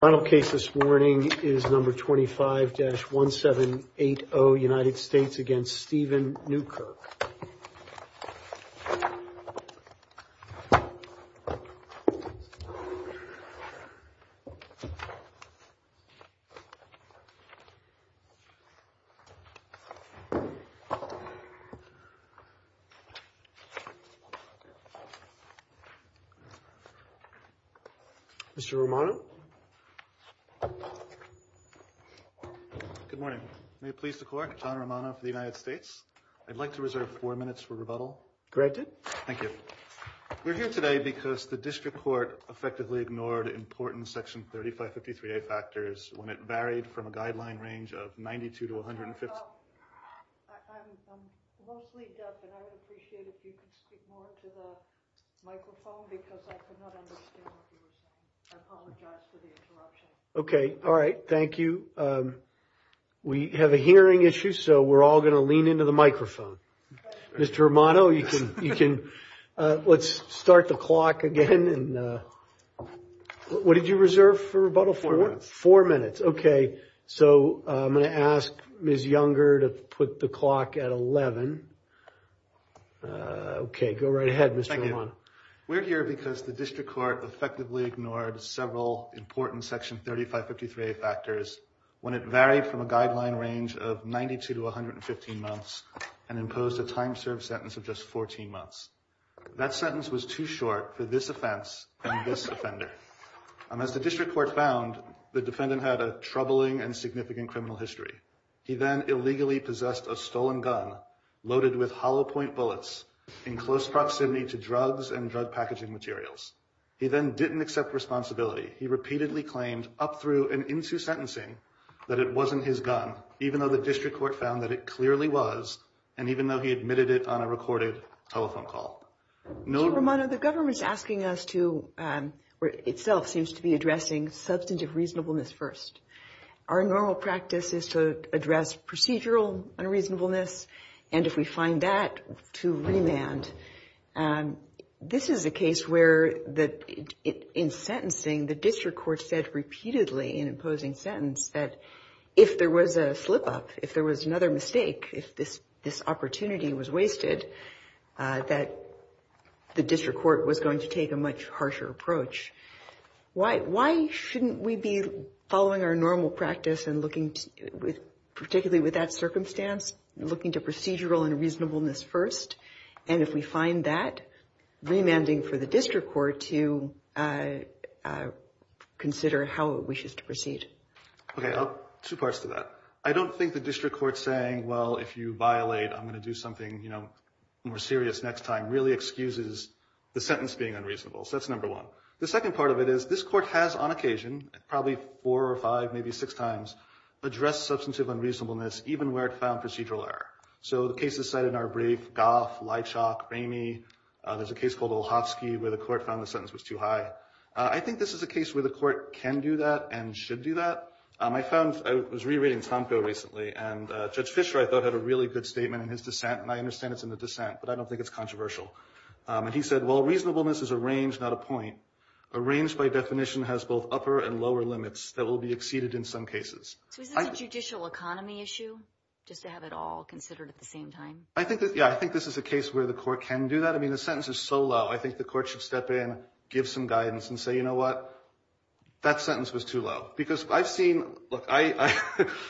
Final case this morning is number 25-1780, United States against Steven Newkirk. Mr. Romano. Good morning. May it please the court, John Romano for the United States. I'd like to reserve four minutes for rebuttal. Thank you. We're here today because the district court effectively ignored important Section 3553A factors when it varied from a guideline range of 92 to 150. I'm mostly deaf and I would appreciate it if you could speak more to the microphone because I could not understand what you were saying. I apologize for the interruption. All right. Thank you. We have a hearing issue, so we're all going to lean into the microphone. Mr. Romano, let's start the clock again. What did you reserve for rebuttal? Four minutes. Four minutes. Okay. So I'm going to ask Ms. Younger to put the clock at 11. Okay. Go right ahead, Mr. Romano. We're here because the district court effectively ignored several important Section 3553A factors when it varied from a guideline range of 92 to 115 months and imposed a time-served sentence of just 14 months. That sentence was too short for this offense and this offender. As the district court found, the defendant had a troubling and significant criminal history. He then illegally possessed a stolen gun loaded with hollow point bullets in close proximity to drugs and drug packaging materials. He then didn't accept responsibility. He repeatedly claimed up through and into sentencing that it wasn't his gun, even though the district court found that it clearly was, and even though he admitted it on a recorded telephone call. Mr. Romano, the government's asking us to, or itself seems to be addressing substantive reasonableness first. Our normal practice is to address procedural unreasonableness. And if we find that to remand, this is a case where in sentencing, the district court said repeatedly in imposing sentence that if there was a slip-up, if there was another mistake, if this opportunity was wasted, that the district court was going to take a much harsher approach. Why shouldn't we be following our normal practice and looking, particularly with that circumstance, looking to procedural unreasonableness first? And if we find that, remanding for the district court to consider how it wishes to proceed. Okay, two parts to that. I don't think the district court saying, well, if you violate, I'm going to do something more serious next time, really excuses the sentence being unreasonable. So that's number one. The second part of it is this court has on occasion, probably four or five, maybe six times, addressed substantive unreasonableness, even where it found procedural error. So the cases cited in our brief, Goff, Leitchock, Ramey, there's a case called Olhofsky where the court found the sentence was too high. I think this is a case where the court can do that and should do that. I found, I was rereading Tomko recently, and Judge Fisher, I thought, had a really good statement in his dissent. And I understand it's in the dissent, but I don't think it's controversial. And he said, well, reasonableness is a range, not a point. A range, by definition, has both upper and lower limits that will be exceeded in some cases. So is this a judicial economy issue, just to have it all considered at the same time? I think that, yeah, I think this is a case where the court can do that. I mean, the sentence is so low. I think the court should step in, give some guidance and say, you know what, that sentence was too low. Because I've seen, look,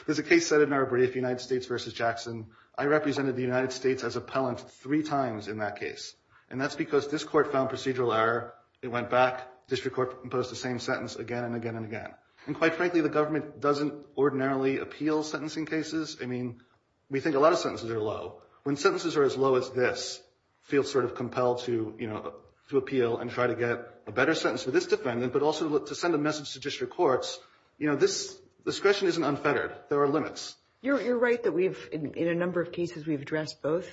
there's a case set in our brief, United States versus Jackson. I represented the United States as appellant three times in that case. And that's because this court found procedural error. It went back. District court imposed the same sentence again and again and again. And quite frankly, the government doesn't ordinarily appeal sentencing cases. I mean, we think a lot of sentences are low. When sentences are as low as this, feel sort of compelled to, you know, to appeal and try to get a better sentence for this defendant, but also to send a message to district courts, you know, this discretion isn't unfettered. There are limits. You're right that we've, in a number of cases, we've addressed both.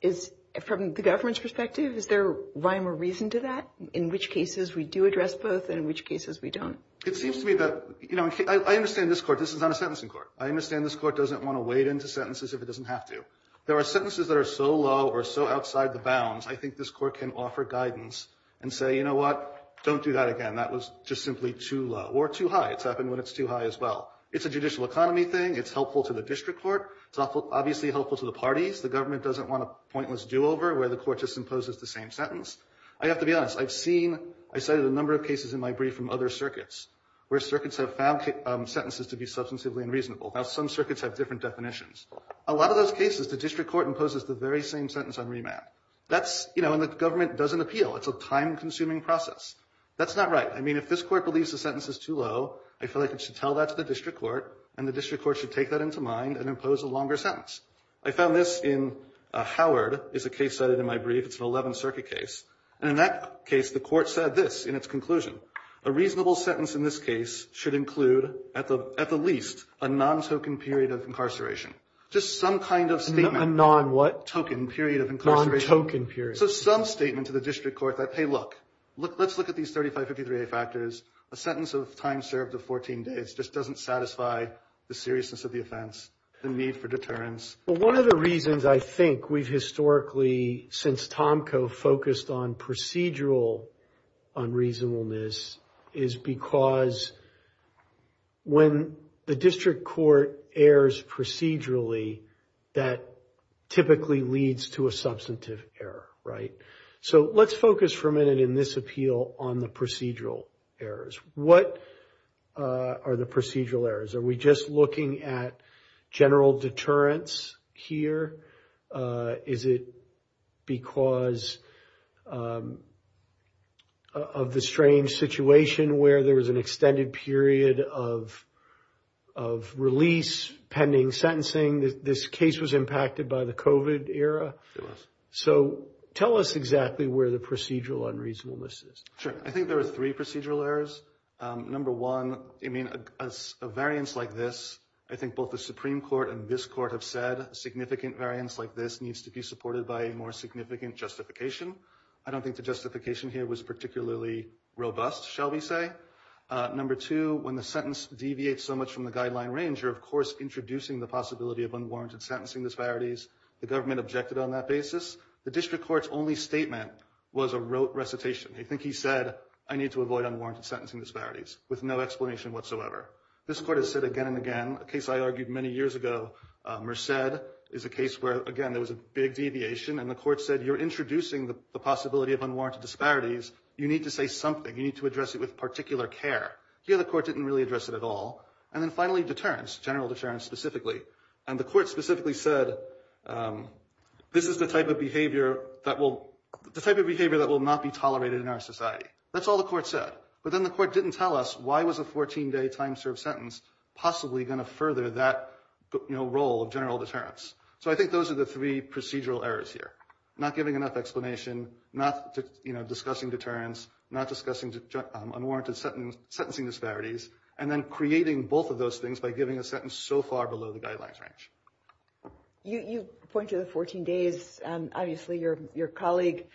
Is, from the government's perspective, is there rhyme or reason to that, in which cases we do address both and in which cases we don't? It seems to me that, you know, I understand this court, this is not a sentencing court. I understand this court doesn't want to wade into sentences if it doesn't have to. There are sentences that are so low or so outside the bounds, I think this court can offer guidance and say, you know what, don't do that again. That was just simply too low or too high. It's happened when it's too high as well. It's a judicial economy thing. It's helpful to the district court. It's obviously helpful to the parties. The government doesn't want a pointless do-over where the court just imposes the same sentence. I have to be honest. I've seen, I cited a number of cases in my brief from other circuits where circuits have found sentences to be substantively unreasonable. Now, some circuits have different definitions. A lot of those cases, the district court imposes the very same sentence on remand. That's, you know, and the government doesn't appeal. It's a time-consuming process. That's not right. I mean, if this court believes the sentence is too low, I feel like it should tell that to the district court, and the district court should take that into mind and impose a longer sentence. I found this in Howard. It's a case cited in my brief. It's an 11th Circuit case. And in that case, the court said this in its conclusion. A reasonable sentence in this case should include, at the least, a non-token period of incarceration. Just some kind of statement. A non-what? Token period of incarceration. Non-token period. So some statement to the district court that, hey, look, let's look at these 3553A factors. A sentence of time served of 14 days just doesn't satisfy the seriousness of the offense, the need for deterrence. Well, one of the reasons I think we've historically, since Tomco, focused on procedural unreasonableness is because when the district court errs procedurally, that typically leads to a substantive error, right? So let's focus for a minute in this appeal on the procedural errors. What are the procedural errors? Are we just looking at general deterrence here? Is it because of the strange situation where there was an extended period of release, pending sentencing? This case was impacted by the COVID era. So tell us exactly where the procedural unreasonableness is. Sure. I think there were three procedural errors. Number one, I mean, a variance like this, I think both the Supreme Court and this court have said a significant variance like this needs to be supported by a more significant justification. I don't think the justification here was particularly robust, shall we say. Number two, when the sentence deviates so much from the guideline range, you're, of course, introducing the possibility of unwarranted sentencing disparities. The government objected on that basis. The district court's only statement was a rote recitation. I think he said, I need to avoid unwarranted sentencing disparities with no explanation whatsoever. This court has said again and again, a case I argued many years ago, Merced, is a case where, again, there was a big deviation. And the court said, you're introducing the possibility of unwarranted disparities. You need to say something. You need to address it with particular care. Here, the court didn't really address it at all. And then finally, deterrence, general deterrence specifically. And the court specifically said, this is the type of behavior that will not be tolerated in our society. That's all the court said. But then the court didn't tell us, why was a 14-day time-served sentence possibly going to further that role of general deterrence? So I think those are the three procedural errors here, not giving enough explanation, not discussing deterrence, not discussing unwarranted sentencing disparities, and then creating both of those things by giving a sentence so far below the guidelines range. You point to the 14 days. Obviously, your colleague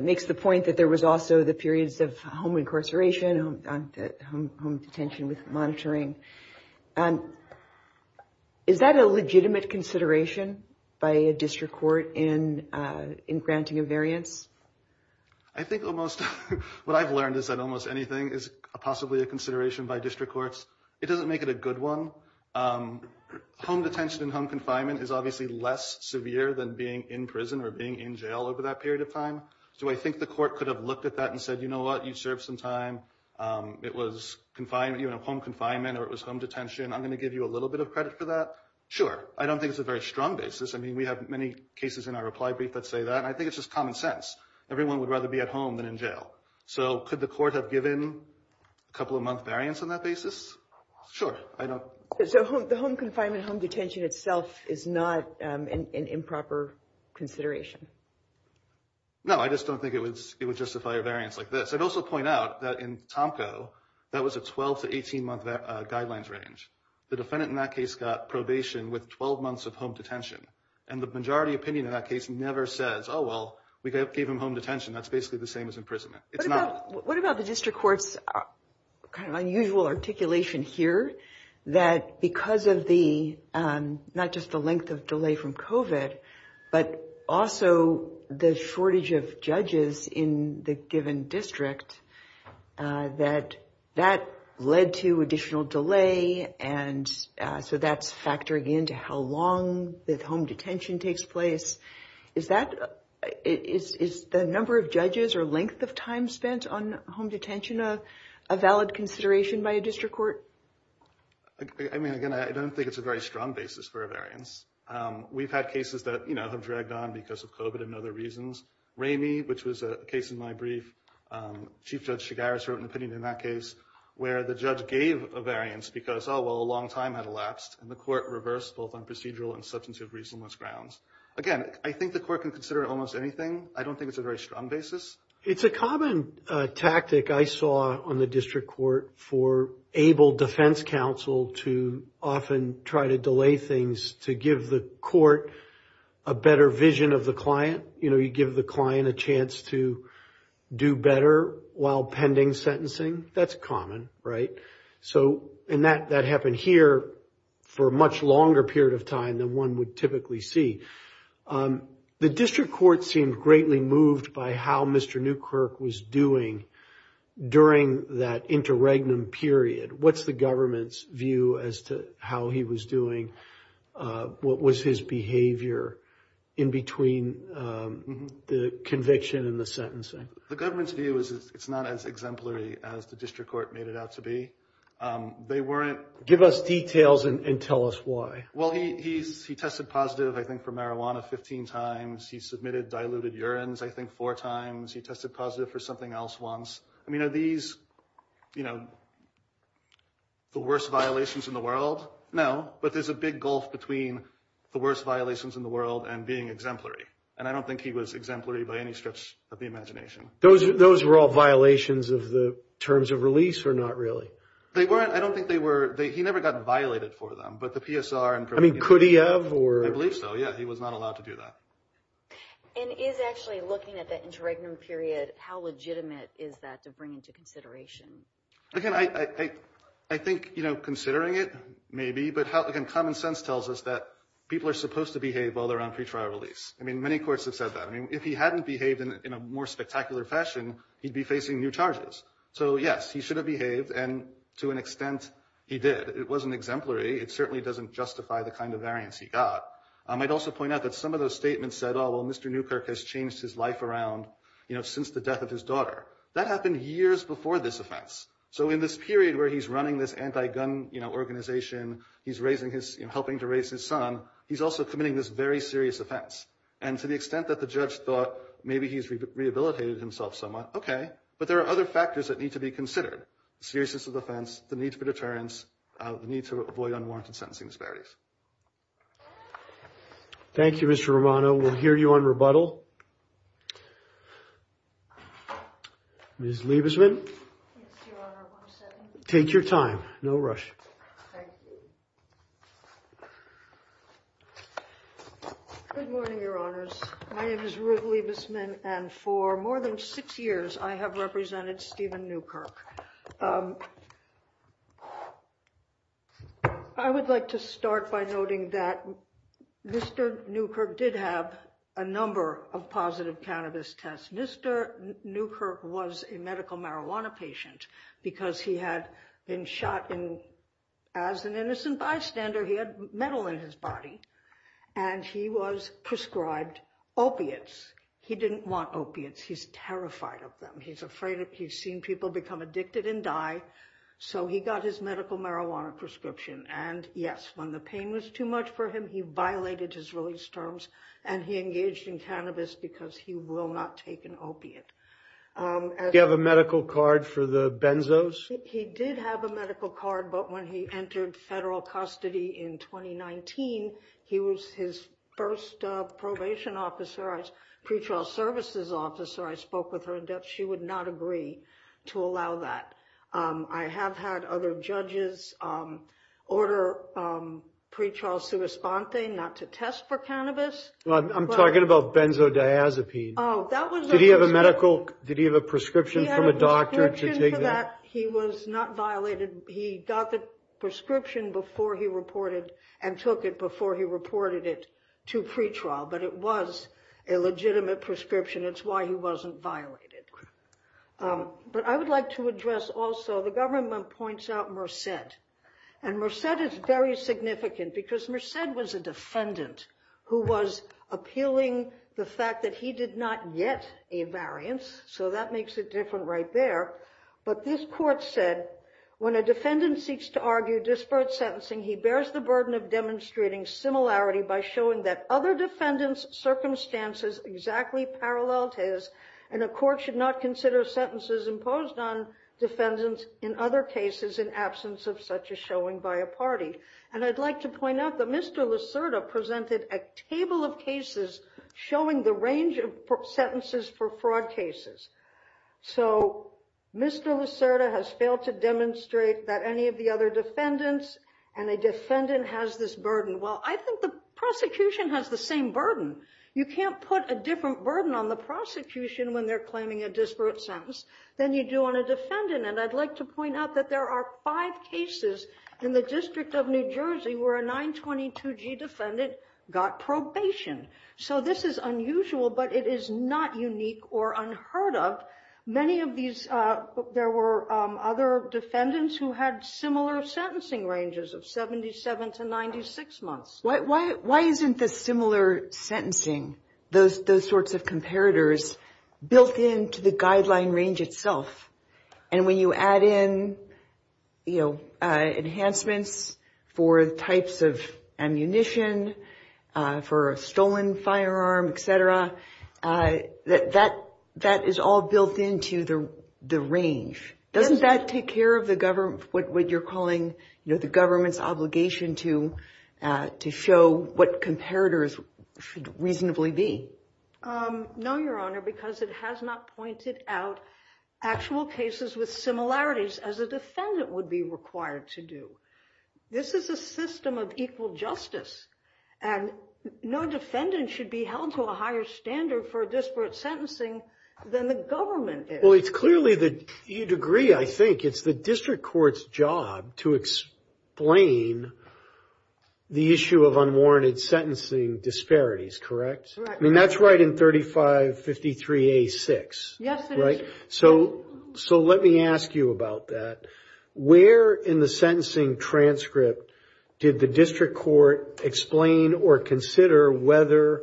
makes the point that there was also the periods of home incarceration, home detention with monitoring. Is that a legitimate consideration by a district court in granting a variance? I think almost what I've learned is that almost anything is possibly a consideration by district courts. It doesn't make it a good one. Home detention and home confinement is obviously less severe than being in prison or being in jail over that period of time. Do I think the court could have looked at that and said, you know what? You served some time. It was home confinement or it was home detention. I'm going to give you a little bit of credit for that. Sure. I don't think it's a very strong basis. I mean, we have many cases in our reply brief that say that. And I think it's just common sense. Everyone would rather be at home than in jail. So could the court have given a couple of month variance on that basis? Sure. So the home confinement, home detention itself is not an improper consideration? No, I just don't think it would justify a variance like this. I'd also point out that in Tomko, that was a 12 to 18 month guidelines range. The defendant in that case got probation with 12 months of home detention. And the majority opinion in that case never says, oh, well, we gave him home detention. That's basically the same as imprisonment. What about the district court's kind of unusual articulation here? That because of the, not just the length of delay from COVID, but also the shortage of judges in the given district, that led to additional delay. And so that's factoring into how long the home detention takes place. Is that, is the number of judges or length of time spent on home detention a valid consideration by a district court? I mean, again, I don't think it's a very strong basis for a variance. We've had cases that have dragged on because of COVID and other reasons. Ramey, which was a case in my brief, Chief Judge Chigares wrote an opinion in that case, where the judge gave a variance because, oh, well, a long time had elapsed. And the court reversed both on procedural and substantive reasonableness grounds. Again, I think the court can consider almost anything. I don't think it's a very strong basis. It's a common tactic I saw on the district court for able defense counsel to often try to delay things to give the court a better vision of the client. You know, you give the client a chance to do better while pending sentencing. That's common, right? So, and that happened here for a much longer period of time than one would typically see. Um, the district court seemed greatly moved by how Mr. Newkirk was doing during that interregnum period. What's the government's view as to how he was doing? What was his behavior in between the conviction and the sentencing? The government's view is it's not as exemplary as the district court made it out to be. They weren't... Give us details and tell us why. Well, he tested positive, I think, for marijuana 15 times. He submitted diluted urines, I think, four times. He tested positive for something else once. I mean, are these, you know, the worst violations in the world? No, but there's a big gulf between the worst violations in the world and being exemplary. And I don't think he was exemplary by any stretch of the imagination. Those were all violations of the terms of release or not really? They weren't. I don't think they were. He never got violated for them. But the PSR and... I mean, could he have, or... I believe so, yeah. He was not allowed to do that. And is actually looking at that interregnum period, how legitimate is that to bring into consideration? Again, I think, you know, considering it, maybe. But how, again, common sense tells us that people are supposed to behave while they're on pretrial release. I mean, many courts have said that. I mean, if he hadn't behaved in a more spectacular fashion, he'd be facing new charges. So, yes, he should have behaved. And to an extent, he did. It wasn't exemplary. It certainly doesn't justify the kind of variance he got. I'd also point out that some of those statements said, oh, well, Mr. Newkirk has changed his life around, you know, since the death of his daughter. That happened years before this offense. So in this period where he's running this anti-gun organization, he's helping to raise his son, he's also committing this very serious offense. And to the extent that the judge thought maybe he's rehabilitated himself somewhat, okay. But there are other factors that need to be considered. The seriousness of the offense, the need for deterrence, the need to avoid unwarranted sentencing disparities. Thank you, Mr. Romano. We'll hear you on rebuttal. Ms. Liebesman. Take your time. No rush. Good morning, Your Honors. My name is Ruth Liebesman. And for more than six years, I have represented Stephen Newkirk. I would like to start by noting that Mr. Newkirk did have a number of positive cannabis tests. Mr. Newkirk was a medical marijuana patient because he had been shot as an innocent bystander. He had metal in his body. And he was prescribed opiates. He didn't want opiates. He's terrified of them. He's afraid he's seen people become addicted and die. So he got his medical marijuana prescription. And yes, when the pain was too much for him, he violated his release terms. And he engaged in cannabis because he will not take an opiate. Did he have a medical card for the benzos? He did have a medical card. But when he entered federal custody in 2019, he was his first probation officer, pretrial services officer. I spoke with her in depth. She would not agree to allow that. I have had other judges order pretrial suespante not to test for cannabis. I'm talking about benzodiazepine. Oh, that was a prescription. Did he have a prescription from a doctor to take that? He was not violated. He got the prescription before he reported and took it before he reported it to pretrial. But it was a legitimate prescription. It's why he wasn't violated. But I would like to address also, the government points out Merced. And Merced is very significant because Merced was a defendant who was appealing the fact that he did not get a variance. So that makes it different right there. But this court said, when a defendant seeks to argue disparate sentencing, he bears the burden of demonstrating similarity by showing that other defendants' circumstances exactly paralleled his. And a court should not consider sentences imposed on defendants in other cases in absence of such a showing by a party. And I'd like to point out that Mr. Lucerta presented a table of cases showing the range of sentences for fraud cases. So Mr. Lucerta has failed to demonstrate that any of the other defendants and a defendant has this burden. Well, I think the prosecution has the same burden. You can't put a different burden on the prosecution when they're claiming a disparate sentence than you do on a defendant. And I'd like to point out that there are five cases in the District of New Jersey where a 922g defendant got probation. So this is unusual, but it is not unique or unheard of. Many of these, there were other defendants who had similar sentencing ranges of 77 to 96 months. Why isn't the similar sentencing, those sorts of comparators, built into the guideline range itself? And when you add in enhancements for types of ammunition, for a stolen firearm, et cetera, that is all built into the range. Doesn't that take care of what you're the government's obligation to show what comparators should reasonably be? No, Your Honor, because it has not pointed out actual cases with similarities as a defendant would be required to do. This is a system of equal justice. And no defendant should be held to a higher standard for disparate sentencing than the government is. Well, it's clearly the degree, I think, it's the district court's job to explain the issue of unwarranted sentencing disparities, correct? Correct. I mean, that's right in 3553a-6. Yes, it is. Right? So let me ask you about that. Where in the sentencing transcript did the district court explain or consider whether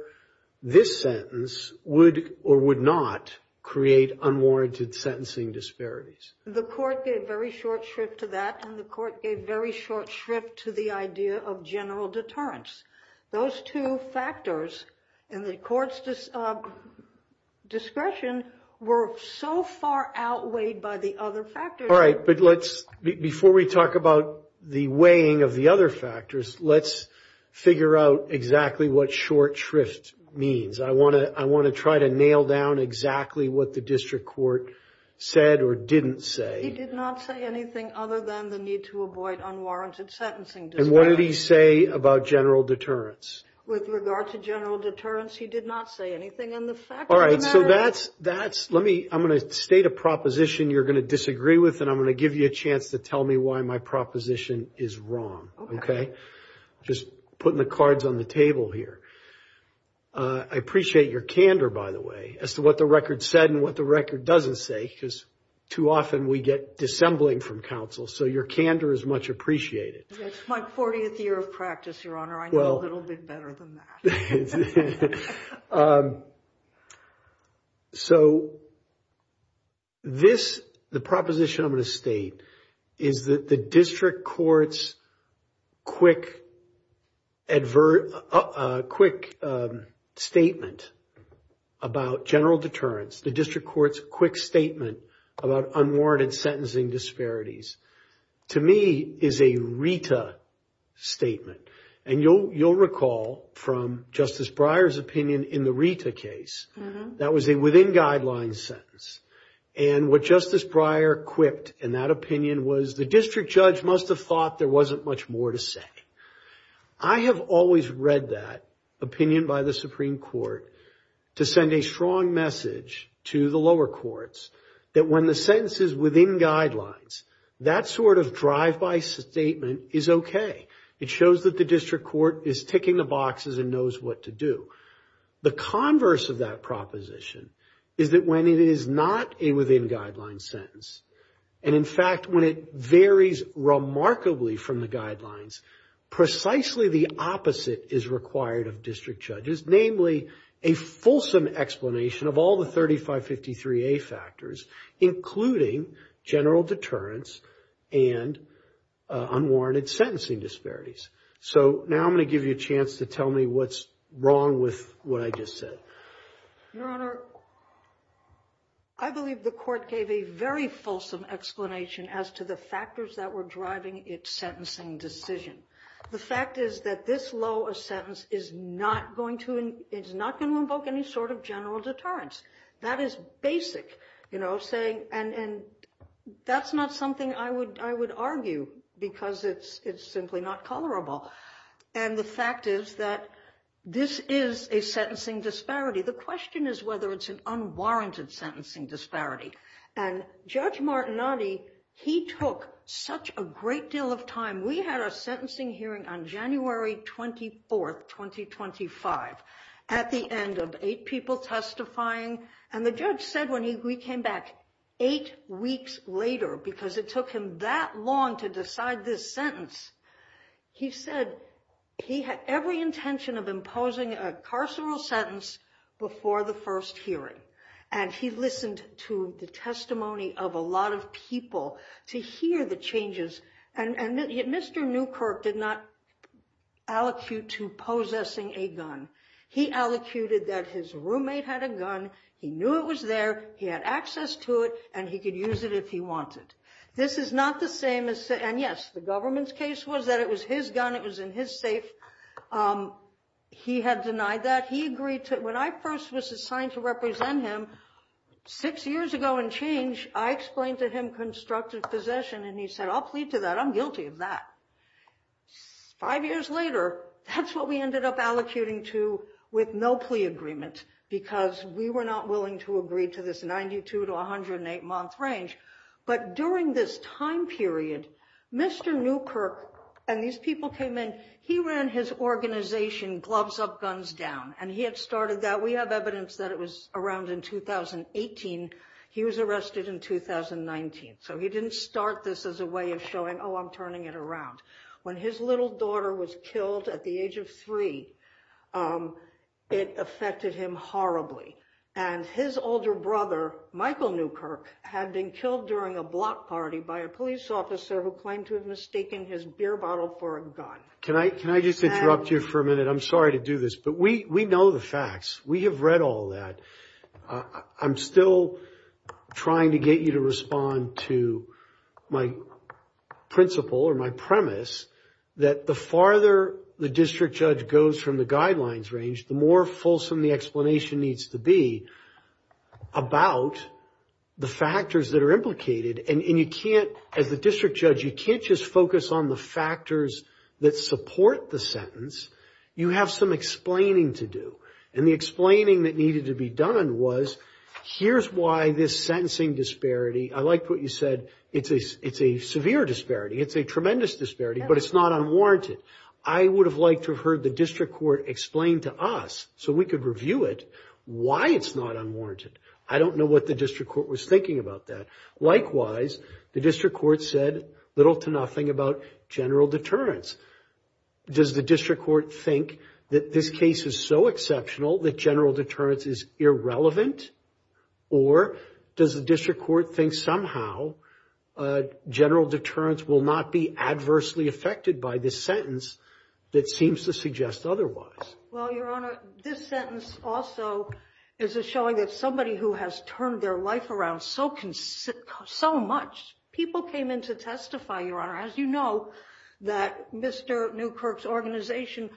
this sentence would or would not create unwarranted sentencing disparities? The court gave very short shrift to that, and the court gave very short shrift to the idea of general deterrence. Those two factors in the court's discretion were so far outweighed by the other factors. All right. But let's, before we talk about the weighing of the other factors, let's figure out exactly what short shrift means. I want to try to nail down exactly what the district court said or didn't say. He did not say anything other than the need to avoid unwarranted sentencing disparities. And what did he say about general deterrence? With regard to general deterrence, he did not say anything on the fact of the matter. All right. So that's, let me, I'm going to state a proposition you're going to disagree with, and I'm going to give you a chance to tell me why my proposition is wrong, okay? Just putting the cards on the table here. I appreciate your candor, by the way, as to what the record said and what the record doesn't say, because too often we get dissembling from counsel. So your candor is much appreciated. It's my 40th year of practice, Your Honor. I know a little bit better than that. So this, the proposition I'm going to state is that the district court's quick statement about general deterrence, the district court's quick statement about unwarranted sentencing disparities, to me is a RETA statement. And you'll recall from Justice Breyer's opinion in the RETA case, that was a within guidelines sentence. And what Justice Breyer quipped in that opinion was the district judge must have thought there wasn't much more to say. I have always read that opinion by the Supreme Court to send a strong message to the lower courts that when the sentence is within guidelines, that sort of drive-by statement is okay. It shows that the district court is ticking the boxes and knows what to do. The converse of that proposition is that when it is not a within guidelines sentence, and in fact, when it varies remarkably from the guidelines, precisely the opposite is required of district judges, namely a fulsome explanation of all the 3553A factors, including general deterrence and unwarranted sentencing disparities. So now I'm going to give you a chance to tell me what's wrong with what I just said. Your Honor, I believe the court gave a very fulsome explanation as to the factors that were driving its sentencing decision. The fact is that this low a sentence is not going to invoke any sort of general deterrence. That is basic, you know, saying, and that's not something I would argue because it's simply not colorable. And the fact is that this is a sentencing disparity. The question is whether it's an unwarranted sentencing disparity. And Judge Martinotti, he took such a great deal of time. We had a sentencing hearing on January 24th, 2025, at the end of eight people testifying. And the judge said when we came back eight weeks later, because it took him that long to decide this sentence, he said he had every intention of imposing a carceral sentence before the first hearing. And he listened to the testimony of a lot of people to hear the changes. And Mr. Newkirk did not allocute to possessing a gun. He allocated that his roommate had a gun. He knew it was there. He had access to it. And he could use it if he wanted. This is not the same as, and yes, the government's case was that it was his gun. It was in his safe. He had denied that. He agreed to, when I first was assigned to represent him, six years ago and change, I explained to him constructive possession. And he said, I'll plead to that. I'm guilty of that. Five years later, that's what we ended up allocuting to with no plea agreement because we were not willing to agree to this 92 to 108 month range. But during this time period, Mr. Newkirk and these people came in, he ran his organization Gloves Up, Guns Down. And he had started that. We have evidence that it was around in 2018. He was arrested in 2019. So he didn't start this as a way of showing, oh, I'm turning it around. When his little daughter was killed at the age of three, it affected him horribly. And his older brother, Michael Newkirk, had been killed during a block party by a police officer who claimed to have mistaken his beer bottle for a gun. Can I just interrupt you for a minute? I'm sorry to do this, but we know the facts. We have read all that. I'm still trying to get you to respond to my principle or my premise that the farther the district judge goes from the guidelines range, the more fulsome the explanation needs to be about the factors that are implicated. And you can't, as the district judge, you can't just focus on the factors that support the sentence. You have some explaining to do. And the explaining that needed to be done was, here's why this sentencing disparity, I liked what you said, it's a severe disparity. It's a tremendous disparity, but it's not unwarranted. I would have liked to have heard the district court explain to us so we could review it why it's not unwarranted. I don't know what the district court was thinking about that. Likewise, the district court said little to nothing about general deterrence. Does the district court think that this case is so exceptional that general deterrence is irrelevant? Or does the district court think somehow general deterrence will not be adversely affected by this sentence that seems to suggest otherwise? Well, Your Honor, this sentence also is showing that somebody who has turned their life around so much, people came in to testify, Your Honor. As you know, that Mr. Newkirk's organization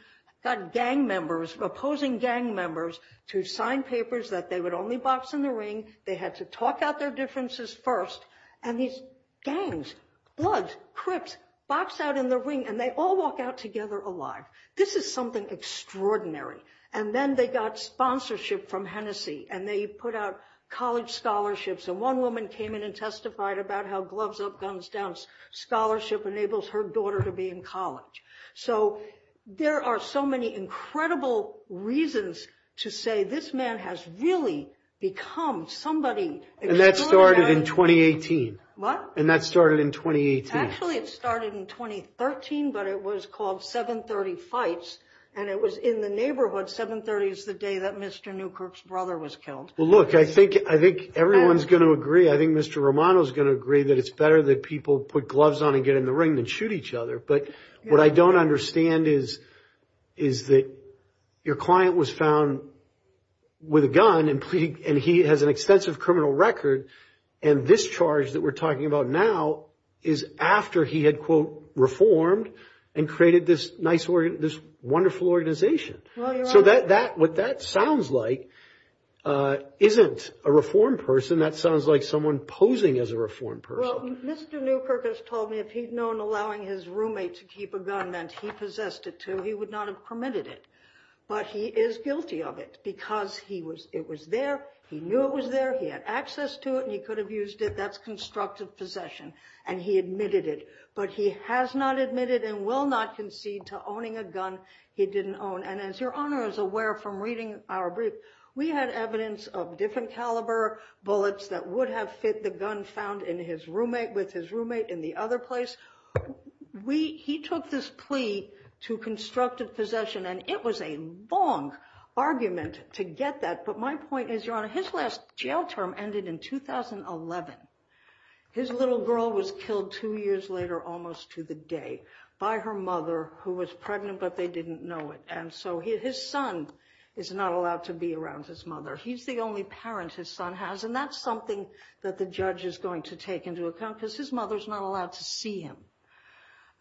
got gang members, opposing gang members, to sign papers that they would only box in the ring. They had to talk out their differences first. And these gangs, bloods, crypts box out in the ring and they all walk out together alive. This is something extraordinary. And then they got sponsorship from Hennessy and they put out college scholarships. And one woman came in and testified about how gloves up, guns down scholarship enables her daughter to be in college. So there are so many incredible reasons to say this man has really become somebody extraordinary. And that started in 2018. What? And that started in 2018. Actually, it started in 2013, but it was called 730 Fights. And it was in the neighborhood. 730 is the day that Mr. Newkirk's brother was killed. Well, look, I think everyone's going to agree. I think Mr. Romano is going to agree that it's better that people put gloves on and get in the ring than shoot each other. But what I don't understand is that your client was found with a gun and he has an extensive criminal record. And this charge that we're talking about now is after he had, quote, reformed and created this wonderful organization. So what that sounds like isn't a reformed person. That sounds like someone posing as a reformed person. Well, Mr. Newkirk has told me if he'd known allowing his roommate to keep a gun meant he possessed it too, he would not have permitted it. But he is guilty of it because it was there. He knew it was there. He had access to it and he could have used it. That's constructive possession. And he admitted it. But he has not admitted and will not concede to owning a gun he didn't own. And as your honor is aware from reading our brief, we had evidence of different caliber bullets that would have fit the gun found with his roommate in the other place. He took this plea to constructive possession and it was a long argument to get that. But my point is, your honor, his last jail term ended in 2011. His little girl was killed two years later almost to the day by her mother who was pregnant but they didn't know it. And so his son is not allowed to be around his mother. He's the only parent his son has and that's something that the judge is going to take into account because his mother's not allowed to see him.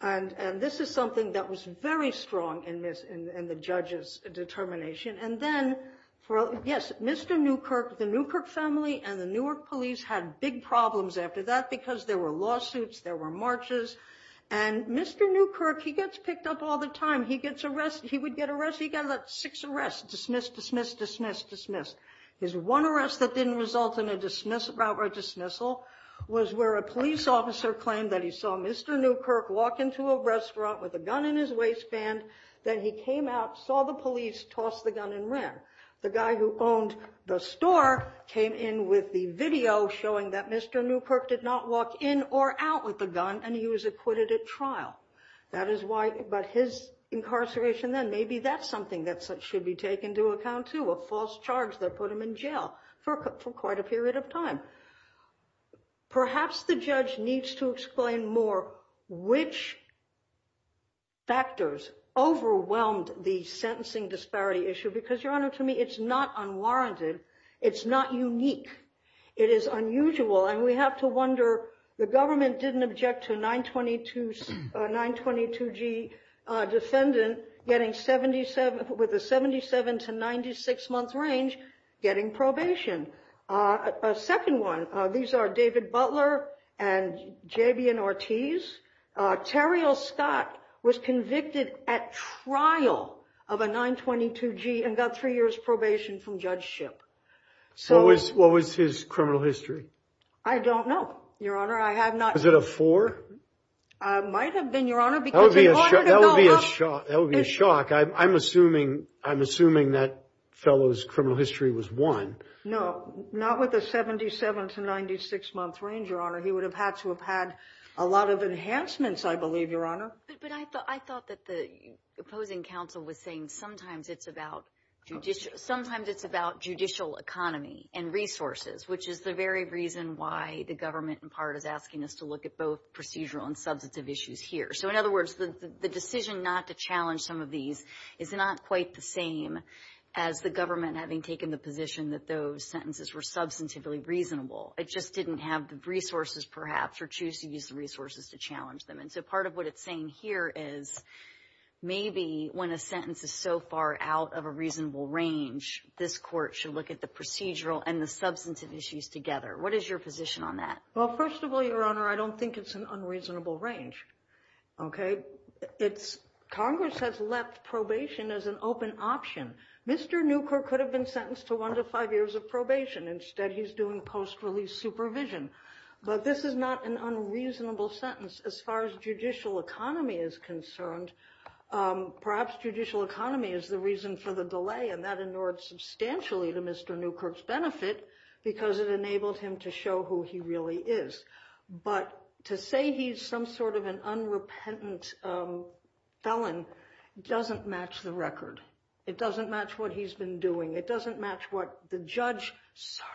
And this is something that was very strong in the judge's determination. And then, yes, Mr. Newkirk, the Newkirk family and the Newark police had big problems after that because there were lawsuits, there were marches. And Mr. Newkirk, he gets picked up all the time. He would get six arrests, dismiss, dismiss, dismiss, His one arrest that didn't result in a dismissal was where a police officer claimed that he saw Mr. Newkirk walk into a restaurant with a gun in his waistband. Then he came out, saw the police, tossed the gun and ran. The guy who owned the store came in with the video showing that Mr. Newkirk did not walk in or out with the gun and he was acquitted at trial. That is why, but his incarceration then, maybe that's something that should be taken to account too, a false charge that put him in jail for quite a period of time. Perhaps the judge needs to explain more which factors overwhelmed the sentencing disparity issue because, Your Honor, to me, it's not unwarranted. It's not unique. It is unusual and we have to wonder, the government didn't object to a 922g defendant with a 77 to 96 month range getting probation. A second one, these are David Butler and J.B.N. Ortiz. Terriel Scott was convicted at trial of a 922g and got three years probation from judgeship. What was his criminal history? I don't know, Your Honor. I have not. Was it a four? It might have been, Your Honor. That would be a shock. I'm assuming that fellow's criminal history was one. No, not with a 77 to 96 month range, Your Honor. He would have had to have had a lot of enhancements, I believe, Your Honor. But I thought that the opposing counsel was saying sometimes it's about judicial economy and resources, which is the very reason why the government, in part, is asking us to look at both procedural and substantive issues here. So in other words, the decision not to challenge some of these is not quite the same as the government having taken the position that those sentences were substantively reasonable. It just didn't have the resources, perhaps, or choose to use the resources to challenge them. And so part of what it's saying here is maybe when a sentence is so far out of a reasonable range, this court should look at the procedural and the substantive issues together. What is your position on that? Well, first of all, Your Honor, I don't think it's an unreasonable range, okay? Congress has left probation as an open option. Mr. Newkirk could have been sentenced to one to five years of probation. Instead, he's doing post-release supervision. But this is not an unreasonable sentence as far as judicial economy is concerned. Perhaps judicial economy is the reason for the delay, and that inured substantially to Mr. Newkirk's benefit because it enabled him to show who he really is. But to say he's some sort of an unrepentant felon doesn't match the record. It doesn't match what he's been doing. It doesn't match what the judge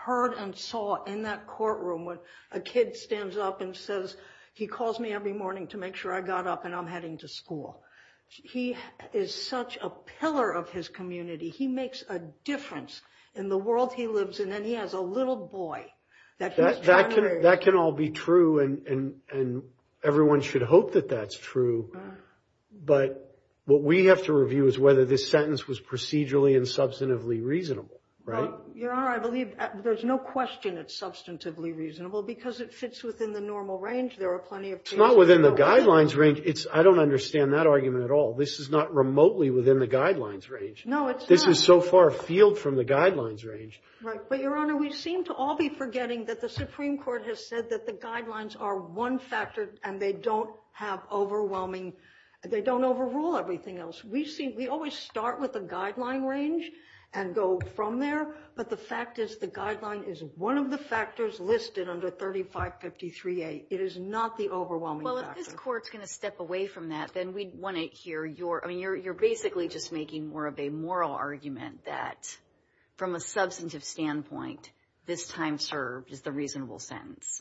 heard and saw in that courtroom when a kid stands up and says, he calls me every morning to make sure I got up and I'm heading to school. He is such a pillar of his community. He makes a difference in the world he lives in, and he has a little boy that he's trying to raise. That can all be true, and everyone should hope that that's true. But what we have to review is whether this sentence was procedurally and substantively reasonable, right? Your Honor, I believe there's no question it's substantively reasonable because it fits within the normal range. There are plenty of cases- It's not within the guidelines range. I don't understand that argument at all. This is not remotely within the guidelines range. This is so far afield from the guidelines range. Right, but Your Honor, we seem to all be forgetting that the Supreme Court has said that the guidelines are one factor and they don't have overwhelming, they don't overrule everything else. We always start with the guideline range and go from there, but the fact is the guideline is one of the factors listed under 3553A. It is not the overwhelming factor. Well, if this Court's going to step away from that, then we'd want to hear your, you're basically just making more of a moral argument that from a substantive standpoint, this time served is the reasonable sentence.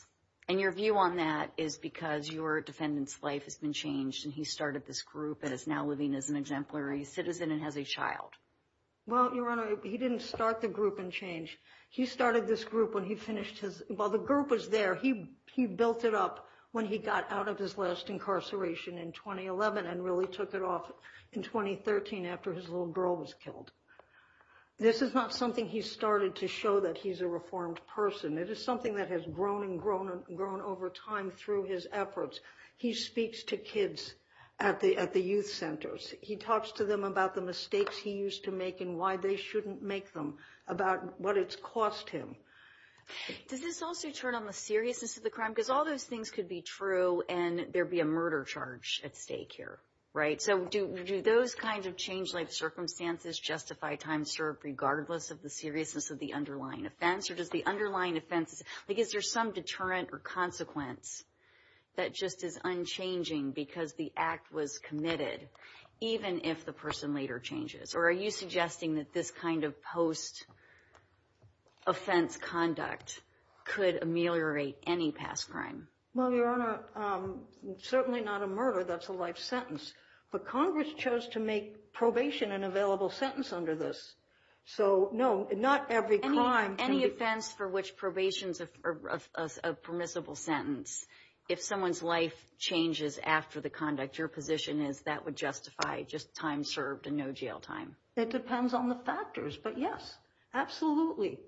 And your view on that is because your defendant's life has been changed and he started this group and is now living as an exemplary citizen and has a child. Well, Your Honor, he didn't start the group and change. He started this group when he finished his, while the group was there, he built it up when he got out of his last incarceration in 2011 and really took it off in 2013 after his little girl was killed. This is not something he started to show that he's a reformed person. It is something that has grown and grown over time through his efforts. He speaks to kids at the youth centers. He talks to them about the mistakes he used to make and why they shouldn't make them, about what it's cost him. Does this also turn on the seriousness of the crime? Because all those things could be true and there'd be a murder charge at stake here, right? So do those kinds of change life circumstances justify time served regardless of the seriousness of the underlying offense? Or does the underlying offenses, I guess there's some deterrent or consequence that just is unchanging because the act was committed, even if the person later changes. Or are you suggesting that this kind of post-offense conduct could ameliorate any past crime? Well, Your Honor, certainly not a murder. That's a life sentence. But Congress chose to make probation an available sentence under this. So no, not every crime. Any offense for which probation is a permissible sentence, if someone's life changes after the conduct, your position is that would justify just time served and no jail time? It depends on the factors. But yes, absolutely.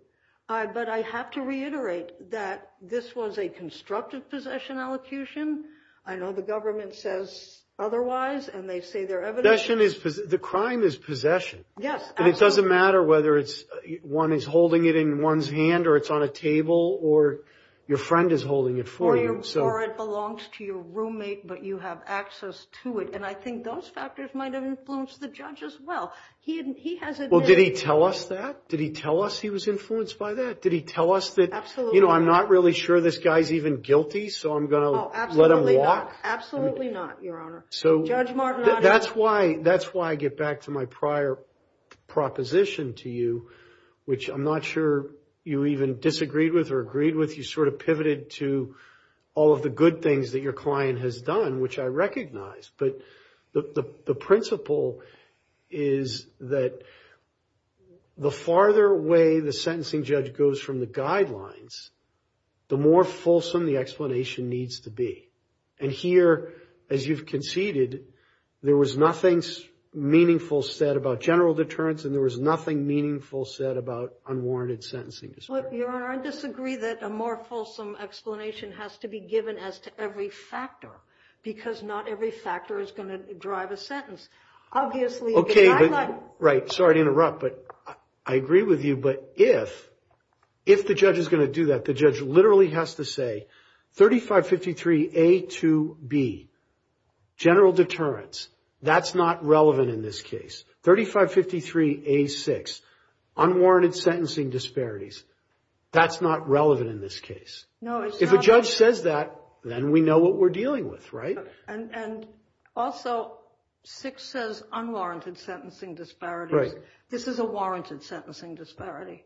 But I have to reiterate that this was a constructive possession allocution. I know the government says otherwise and they say their evidence. The crime is possession. Yes. And it doesn't matter whether one is holding it in one's hand or it's on a table or your friend is holding it for you. Or it belongs to your roommate, but you have access to it. And I think those factors might have influenced the judge as well. Well, did he tell us that? Did he tell us he was influenced by that? Did he tell us that, you know, I'm not really sure this guy's even guilty, so I'm going to let him walk? Absolutely not, Your Honor. So that's why I get back to my prior proposition to you, which I'm not sure you even disagreed with or agreed with. You sort of pivoted to all of the good things that your client has done, which I recognize. But the principle is that the farther away the sentencing judge goes from the guidelines, the more fulsome the explanation needs to be. And here, as you've conceded, there was nothing meaningful said about general deterrence and there was nothing meaningful said about unwarranted sentencing. Your Honor, I disagree that a more fulsome explanation has to be given as to every factor because not every factor is going to drive a sentence. Obviously, the guideline... Right, sorry to interrupt, but I agree with you. But if the judge is going to do that, the judge literally has to say 3553A2B, general deterrence, that's not relevant in this case. 3553A6, unwarranted sentencing disparities, that's not relevant in this case. If a judge says that, then we know what we're dealing with, right? And also, 6 says unwarranted sentencing disparities. This is a warranted sentencing disparity.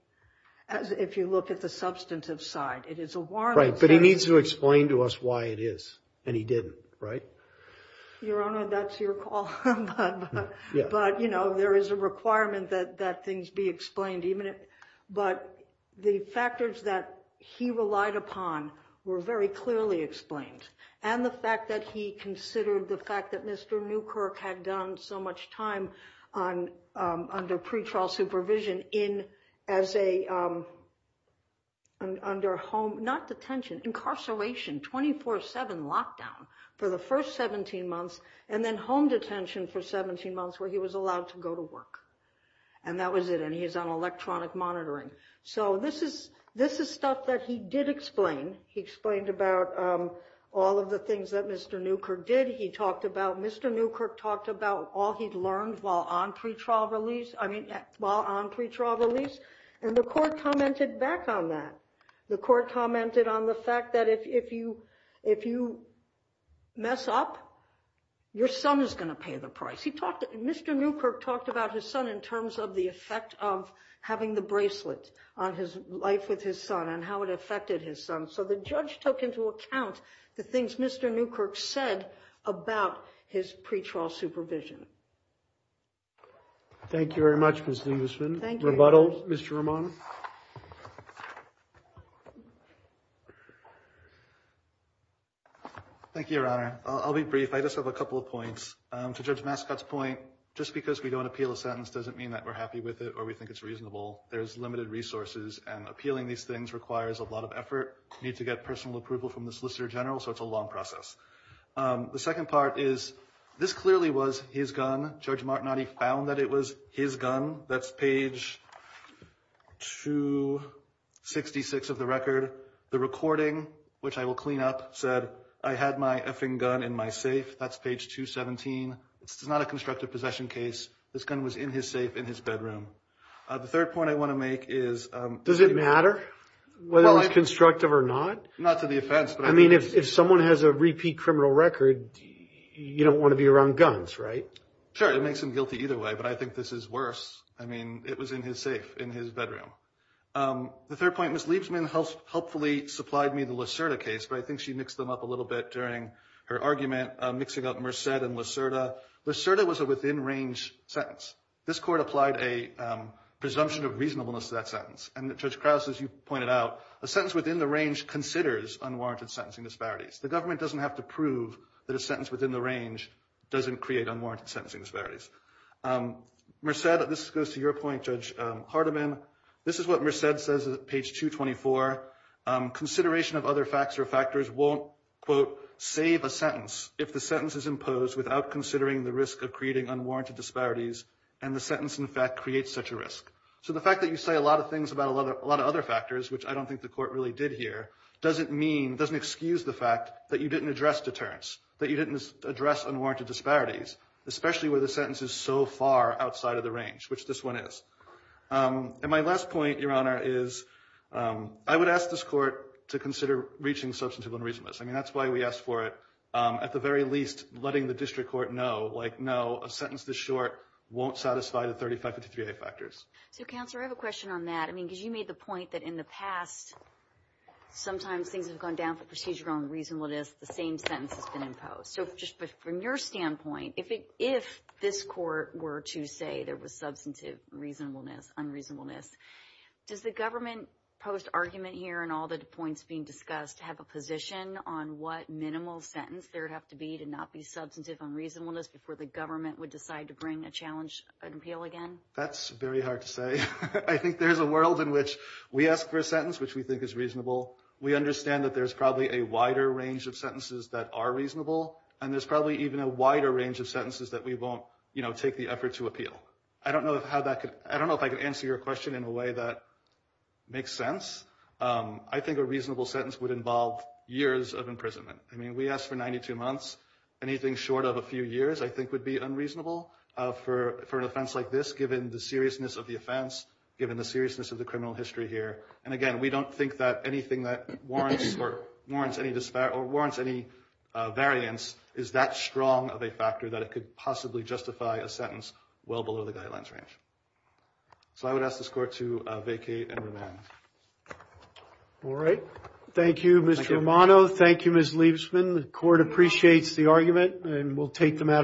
If you look at the substantive side, it is a warranted... Right, but he needs to explain to us why it is and he didn't, right? Your Honor, that's your call. But there is a requirement that things be explained, but the factors that he relied upon were very clearly explained and the fact that he considered the fact that Mr. Newkirk had done so much time under pretrial supervision under home, not detention, incarceration, 24-7 lockdown for the first 17 months and then home detention for 17 months where he was allowed to go to work. And that was it and he's on electronic monitoring. So this is stuff that he did explain. He explained about all of the things that Mr. Newkirk did. He talked about... Mr. Newkirk talked about all he'd learned while on pretrial release. I mean, while on pretrial release and the court commented back on that. The court commented on the fact that if you mess up, your son is gonna pay the price. He talked... Mr. Newkirk talked about his son in terms of the effect of having the bracelet on his life with his son and how it affected his son. So the judge took into account the things Mr. Newkirk said about his pretrial supervision. Thank you very much, Ms. Dingusman. Thank you. Rebuttal, Mr. Ramon. Thank you, Your Honor. I'll be brief. I just have a couple of points. To Judge Mascot's point, just because we don't appeal a sentence doesn't mean that we're happy with it or we think it's reasonable. There's limited resources and appealing these things requires a lot of effort. Need to get personal approval from the Solicitor General, so it's a long process. The second part is, this clearly was his gun. Judge Martinotti found that it was his gun. That's page 266 of the record. The recording, which I will clean up, said I had my effing gun in my safe. That's page 217. It's not a constructive possession case. This gun was in his safe in his bedroom. The third point I want to make is... Does it matter whether it was constructive or not? Not to the offense, but... I mean, if someone has a repeat criminal record, you don't want to be around guns, right? Sure, it makes him guilty either way, but I think this is worse. I mean, it was in his safe, in his bedroom. The third point, Ms. Liebsman helpfully supplied me the Lacerda case, but I think she mixed them up a little bit during her argument, mixing up Merced and Lacerda. Lacerda was a within-range sentence. This court applied a presumption of reasonableness to that sentence, and Judge Krause, as you pointed out, a sentence within the range considers unwarranted sentencing disparities. The government doesn't have to prove that a sentence within the range doesn't create unwarranted sentencing disparities. Merced, this goes to your point, Judge Hardiman. This is what Merced says at page 224. Consideration of other facts or factors won't, quote, save a sentence if the sentence is imposed without considering the risk of creating unwarranted disparities, and the sentence, in fact, creates such a risk. So the fact that you say a lot of things about a lot of other factors, which I don't think the court really did here, doesn't mean, doesn't excuse the fact that you didn't address deterrence, that you didn't address unwarranted disparities, especially where the sentence is so far outside of the range, which this one is. And my last point, Your Honor, is I would ask this court to consider reaching substantive unreasonableness. I mean, that's why we asked for it. At the very least, letting the district court know, like, no, a sentence this short won't satisfy the 3553A factors. So, Counselor, I have a question on that. I mean, because you made the point that in the past, sometimes things have gone down for procedural unreasonableness, the same sentence has been imposed. So just from your standpoint, if this court were to say there was substantive reasonableness, unreasonableness, does the government post argument here and all the points being discussed have a position on what minimal sentence there would have to be to not be substantive unreasonableness before the government would decide to bring a challenge, an appeal again? That's very hard to say. I think there's a world in which we ask for a sentence which we think is reasonable. We understand that there's probably a wider range of sentences that are reasonable. And there's probably even a wider range of sentences that we won't, you know, take the effort to appeal. I don't know if how that could, I don't know if I could answer your question in a way that makes sense. I think a reasonable sentence would involve years of imprisonment. I mean, we asked for 92 months. Anything short of a few years, I think would be unreasonable for an offense like this, given the seriousness of the offense, given the seriousness of the criminal history here. And again, we don't think that anything that warrants or warrants any variance is that strong of a factor that it could possibly justify a sentence well below the guidelines range. So I would ask this court to vacate and remand. All right. Thank you, Mr. Romano. Thank you, Ms. Liebesman. The court appreciates the argument and we'll take the matter.